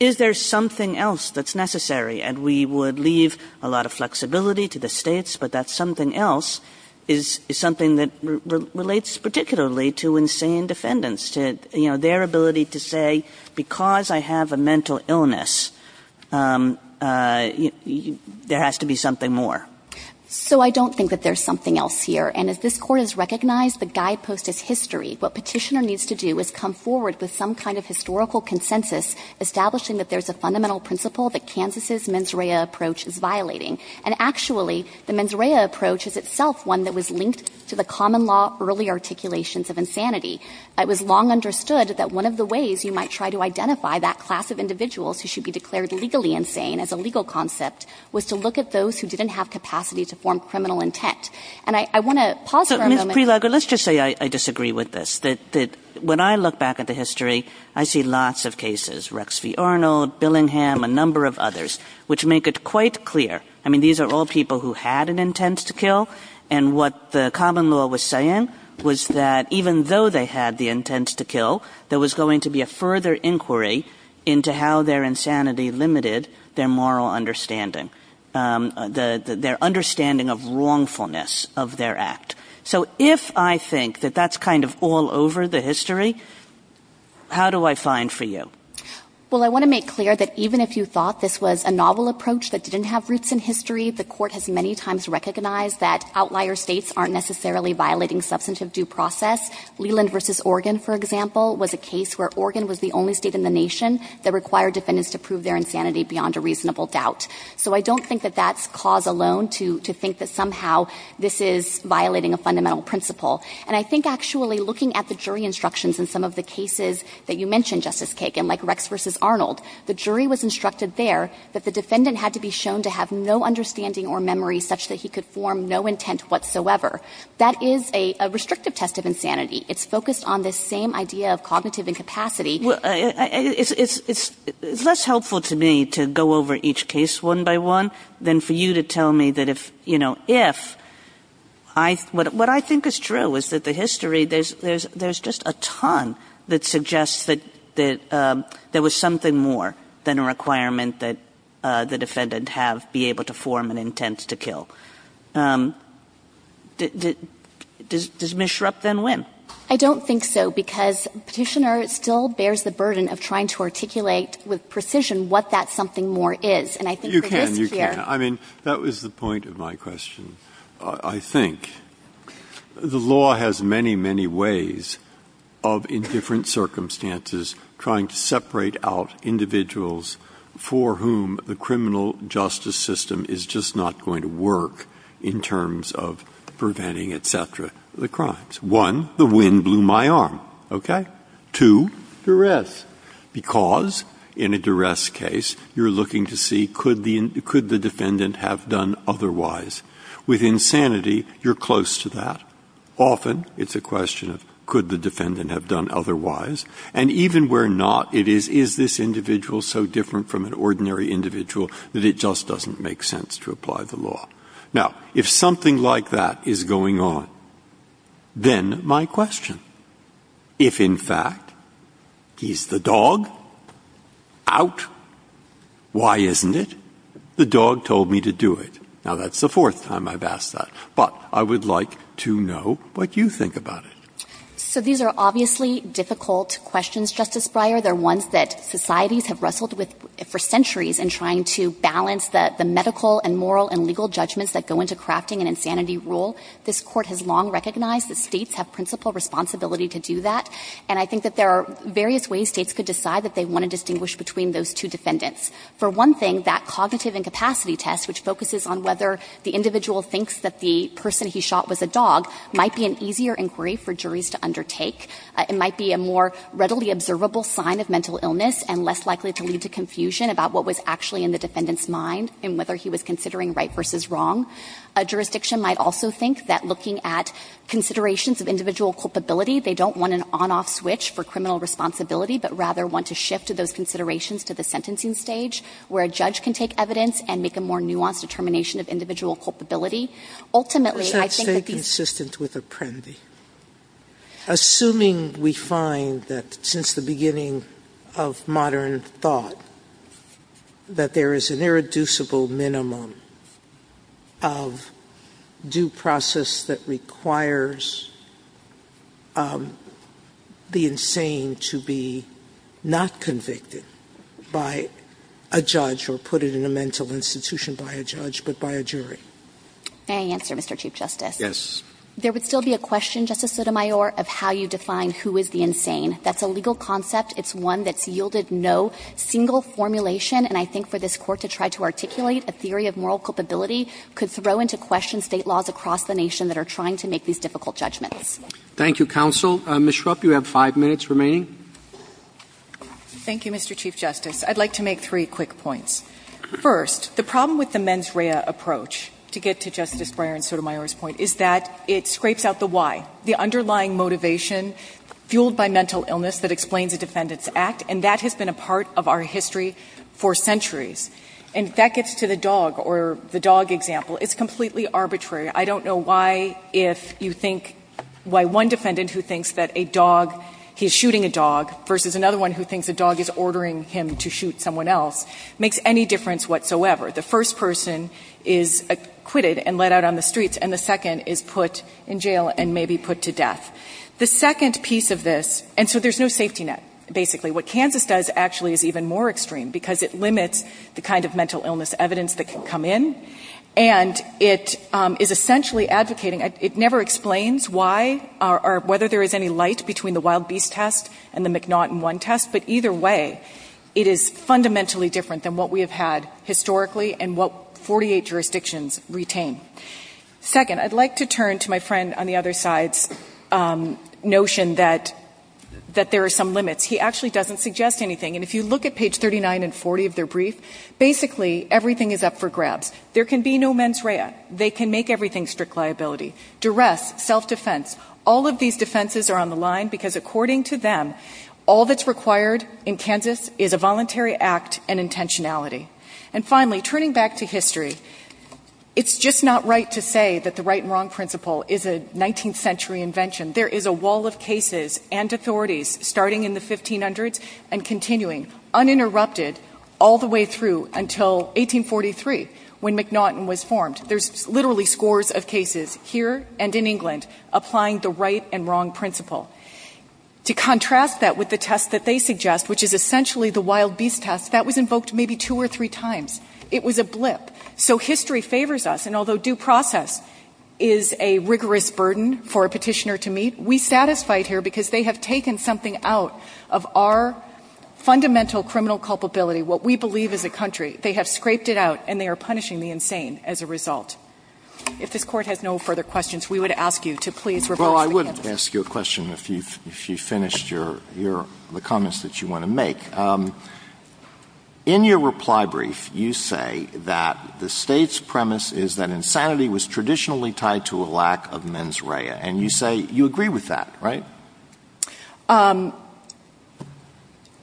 is there something else that's necessary? And we would leave a lot of flexibility to the States, but that something else is something that relates particularly to insane defendants, to their ability to say, because I have a mental illness, there has to be something more. So I don't think that there's something else here. And as this Court has recognized, the guidepost is history. What Petitioner needs to do is come forward with some kind of historical consensus establishing that there's a fundamental principle that Kansas' mens rea approach is violating. And actually, the mens rea approach is itself one that was linked to the common law early articulations of insanity. It was long understood that one of the ways you might try to identify that class of individuals who should be declared legally insane as a legal concept was to look at those who didn't have capacity to form criminal intent. And I want to pause for a moment. Kagan. Kagan. Let's just say I disagree with this, that when I look back at the history, I see lots of cases, Rex v. Arnold, Billingham, a number of others, which make it quite clear, I mean, these are all people who had an intent to kill. And what the common law was saying was that even though they had the intent to kill, there was going to be a further inquiry into how their insanity limited their moral understanding, their understanding of wrongfulness of their act. So if I think that that's kind of all over the history, how do I find for you? Well, I want to make clear that even if you thought this was a novel approach that didn't have roots in history, the Court has many times recognized that outlier States aren't necessarily violating substantive due process. Leland v. Oregon, for example, was a case where Oregon was the only State in the nation that required defendants to prove their insanity beyond a reasonable doubt. So I don't think that that's cause alone to think that somehow this is violating a fundamental principle. And I think actually looking at the jury instructions in some of the cases that you mentioned, Justice Kagan, like Rex v. Arnold, the jury was instructed there that the defendant had to be shown to have no understanding or memory such that he could form no intent whatsoever. That is a restrictive test of insanity. It's focused on this same idea of cognitive incapacity. Kagan. It's less helpful to me to go over each case one by one than for you to tell me that if, you know, if, what I think is true is that the history, there's just a ton that suggests that there was something more than a requirement that the defendant have be able to form an intent to kill. Does Ms. Schrupp then win? I don't think so, because Petitioner still bears the burden of trying to articulate with precision what that something more is. And I think for this case. You can, you can. I mean, that was the point of my question. I think the law has many, many ways of, in different circumstances, trying to separate out individuals for whom the criminal justice system is just not going to work in terms of preventing, et cetera, the crimes. One, the wind blew my arm. Okay? Two, duress. Because in a duress case, you're looking to see could the defendant have done otherwise. With insanity, you're close to that. Often, it's a question of could the defendant have done otherwise. And even where not, it is, is this individual so different from an ordinary individual that it just doesn't make sense to apply the law. Now, if something like that is going on, then my question, if in fact, he's the dog, out, why isn't it? The dog told me to do it. Now, that's the fourth time I've asked that. But I would like to know what you think about it. So these are obviously difficult questions, Justice Breyer. They're ones that societies have wrestled with for centuries in trying to balance the medical and moral and legal judgments that go into crafting an insanity rule. This Court has long recognized that States have principal responsibility to do that, and I think that there are various ways States could decide that they might be a more readily observable sign of mental illness and less likely to lead to confusion about what was actually in the defendant's mind and whether he was considering right versus wrong. A jurisdiction might also think that looking at considerations of individual culpability, they don't want an on-off switch for criminal responsibility, but rather want to shift those considerations to the sentencing stage, where a judge more nuanced determination of individual culpability. Ultimately, I think that these ---- Sotomayor, I would say consistent with Apprendi. Assuming we find that since the beginning of modern thought, that there is an irreducible minimum of due process that requires the insane to be not convicted by a judge or put in a mental institution by a judge, but by a jury. May I answer, Mr. Chief Justice? Yes. There would still be a question, Justice Sotomayor, of how you define who is the insane. That's a legal concept. It's one that's yielded no single formulation, and I think for this Court to try to articulate a theory of moral culpability could throw into question State laws across the nation that are trying to make these difficult judgments. Thank you, counsel. Ms. Schrupp, you have five minutes remaining. Thank you, Mr. Chief Justice. I'd like to make three quick points. First, the problem with the mens rea approach, to get to Justice Breyer and Sotomayor's point, is that it scrapes out the why, the underlying motivation fueled by mental illness that explains a defendant's act, and that has been a part of our history for centuries. And that gets to the dog or the dog example. It's completely arbitrary. I don't know why if you think why one defendant who thinks that a dog, he's shooting a dog, versus another one who thinks a dog is ordering him to shoot someone else, makes any difference whatsoever. The first person is acquitted and let out on the streets, and the second is put in jail and maybe put to death. The second piece of this, and so there's no safety net, basically. What Kansas does actually is even more extreme, because it limits the kind of mental illness evidence that can come in, and it is essentially advocating. It never explains why or whether there is any light between the wild beast test and the McNaughton 1 test, but either way, it is fundamentally different than what we have had historically and what 48 jurisdictions retain. Second, I'd like to turn to my friend on the other side's notion that there are some limits. He actually doesn't suggest anything, and if you look at page 39 and 40 of their brief, basically everything is up for grabs. There can be no mens rea. They can make everything strict liability. Duress, self-defense, all of these defenses are on the line because according to them, all that's required in Kansas is a voluntary act and intentionality. And finally, turning back to history, it's just not right to say that the right and wrong principle is a 19th century invention. There is a wall of cases and authorities starting in the 1500s and continuing uninterrupted all the way through until 1843 when McNaughton was formed. There's literally scores of cases here and in England applying the right and wrong principle. To contrast that with the test that they suggest, which is essentially the wild beast test, that was invoked maybe two or three times. It was a blip. So history favors us, and although due process is a rigorous burden for a Petitioner to meet, we're satisfied here because they have taken something out of our fundamental criminal culpability, what we believe as a country. They have scraped it out, and they are punishing the insane as a result. If this Court has no further questions, we would ask you to please reverse to Kansas. I'd like to ask you a question if you've finished the comments that you want to make. In your reply brief, you say that the State's premise is that insanity was traditionally tied to a lack of mens rea, and you say you agree with that, right?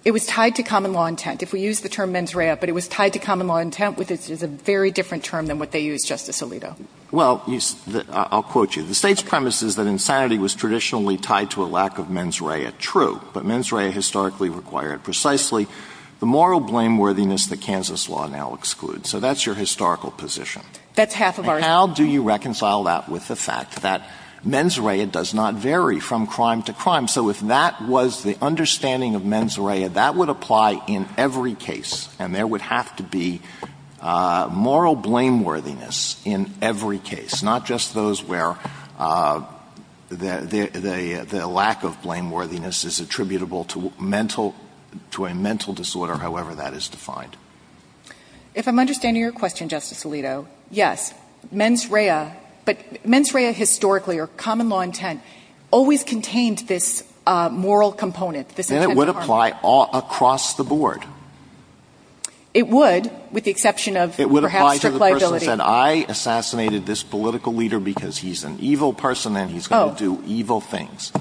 It was tied to common law intent. If we use the term mens rea, but it was tied to common law intent is a very different term than what they used, Justice Alito. Well, I'll quote you. The State's premise is that insanity was traditionally tied to a lack of mens rea, true, but mens rea historically required precisely the moral blameworthiness that Kansas law now excludes. So that's your historical position. That's half of our history. And how do you reconcile that with the fact that mens rea does not vary from crime to crime? So if that was the understanding of mens rea, that would apply in every case, and there would have to be moral blameworthiness in every case, not just those where the lack of blameworthiness is attributable to mental, to a mental disorder, however that is defined. If I'm understanding your question, Justice Alito, yes, mens rea, but mens rea historically or common law intent always contained this moral component. Then it would apply all across the board. It would, with the exception of perhaps the liability. It would apply to the person who said I assassinated this political leader because he's an evil person and he's going to do evil things.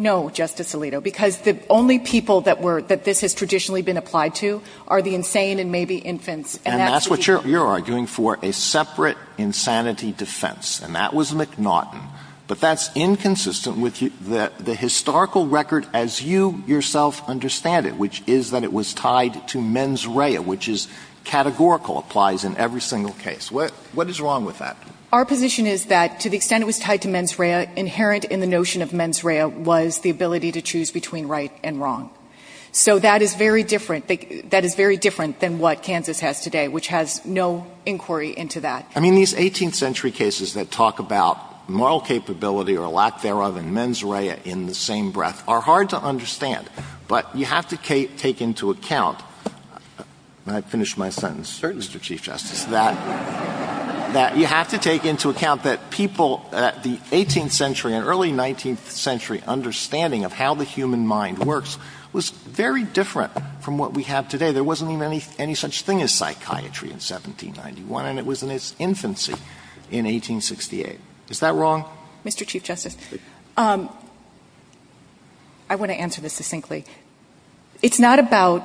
No, Justice Alito, because the only people that this has traditionally been applied to are the insane and maybe infants. And that's what you're arguing for, a separate insanity defense. And that was McNaughton. But that's inconsistent with the historical record as you yourself understand it, which is that it was tied to mens rea, which is categorical, applies in every single case. What is wrong with that? Our position is that to the extent it was tied to mens rea, inherent in the notion of mens rea was the ability to choose between right and wrong. So that is very different. That is very different than what Kansas has today, which has no inquiry into that. I mean, these 18th century cases that talk about moral capability or lack thereof and mens rea in the same breath are hard to understand, but you have to take into account. May I finish my sentence? Certainly, Mr. Chief Justice. That you have to take into account that people at the 18th century and early 19th century understanding of how the human mind works was very different from what we have today. There wasn't even any such thing as psychiatry in 1791, and it was in its infancy in 1868. Is that wrong? Mr. Chief Justice, I want to answer this succinctly. It's not about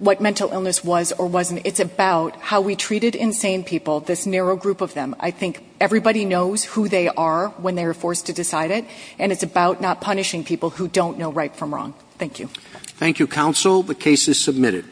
what mental illness was or wasn't. It's about how we treated insane people, this narrow group of them. I think everybody knows who they are when they are forced to decide it, and it's about not punishing people who don't know right from wrong. Thank you. Thank you, counsel. The case is submitted.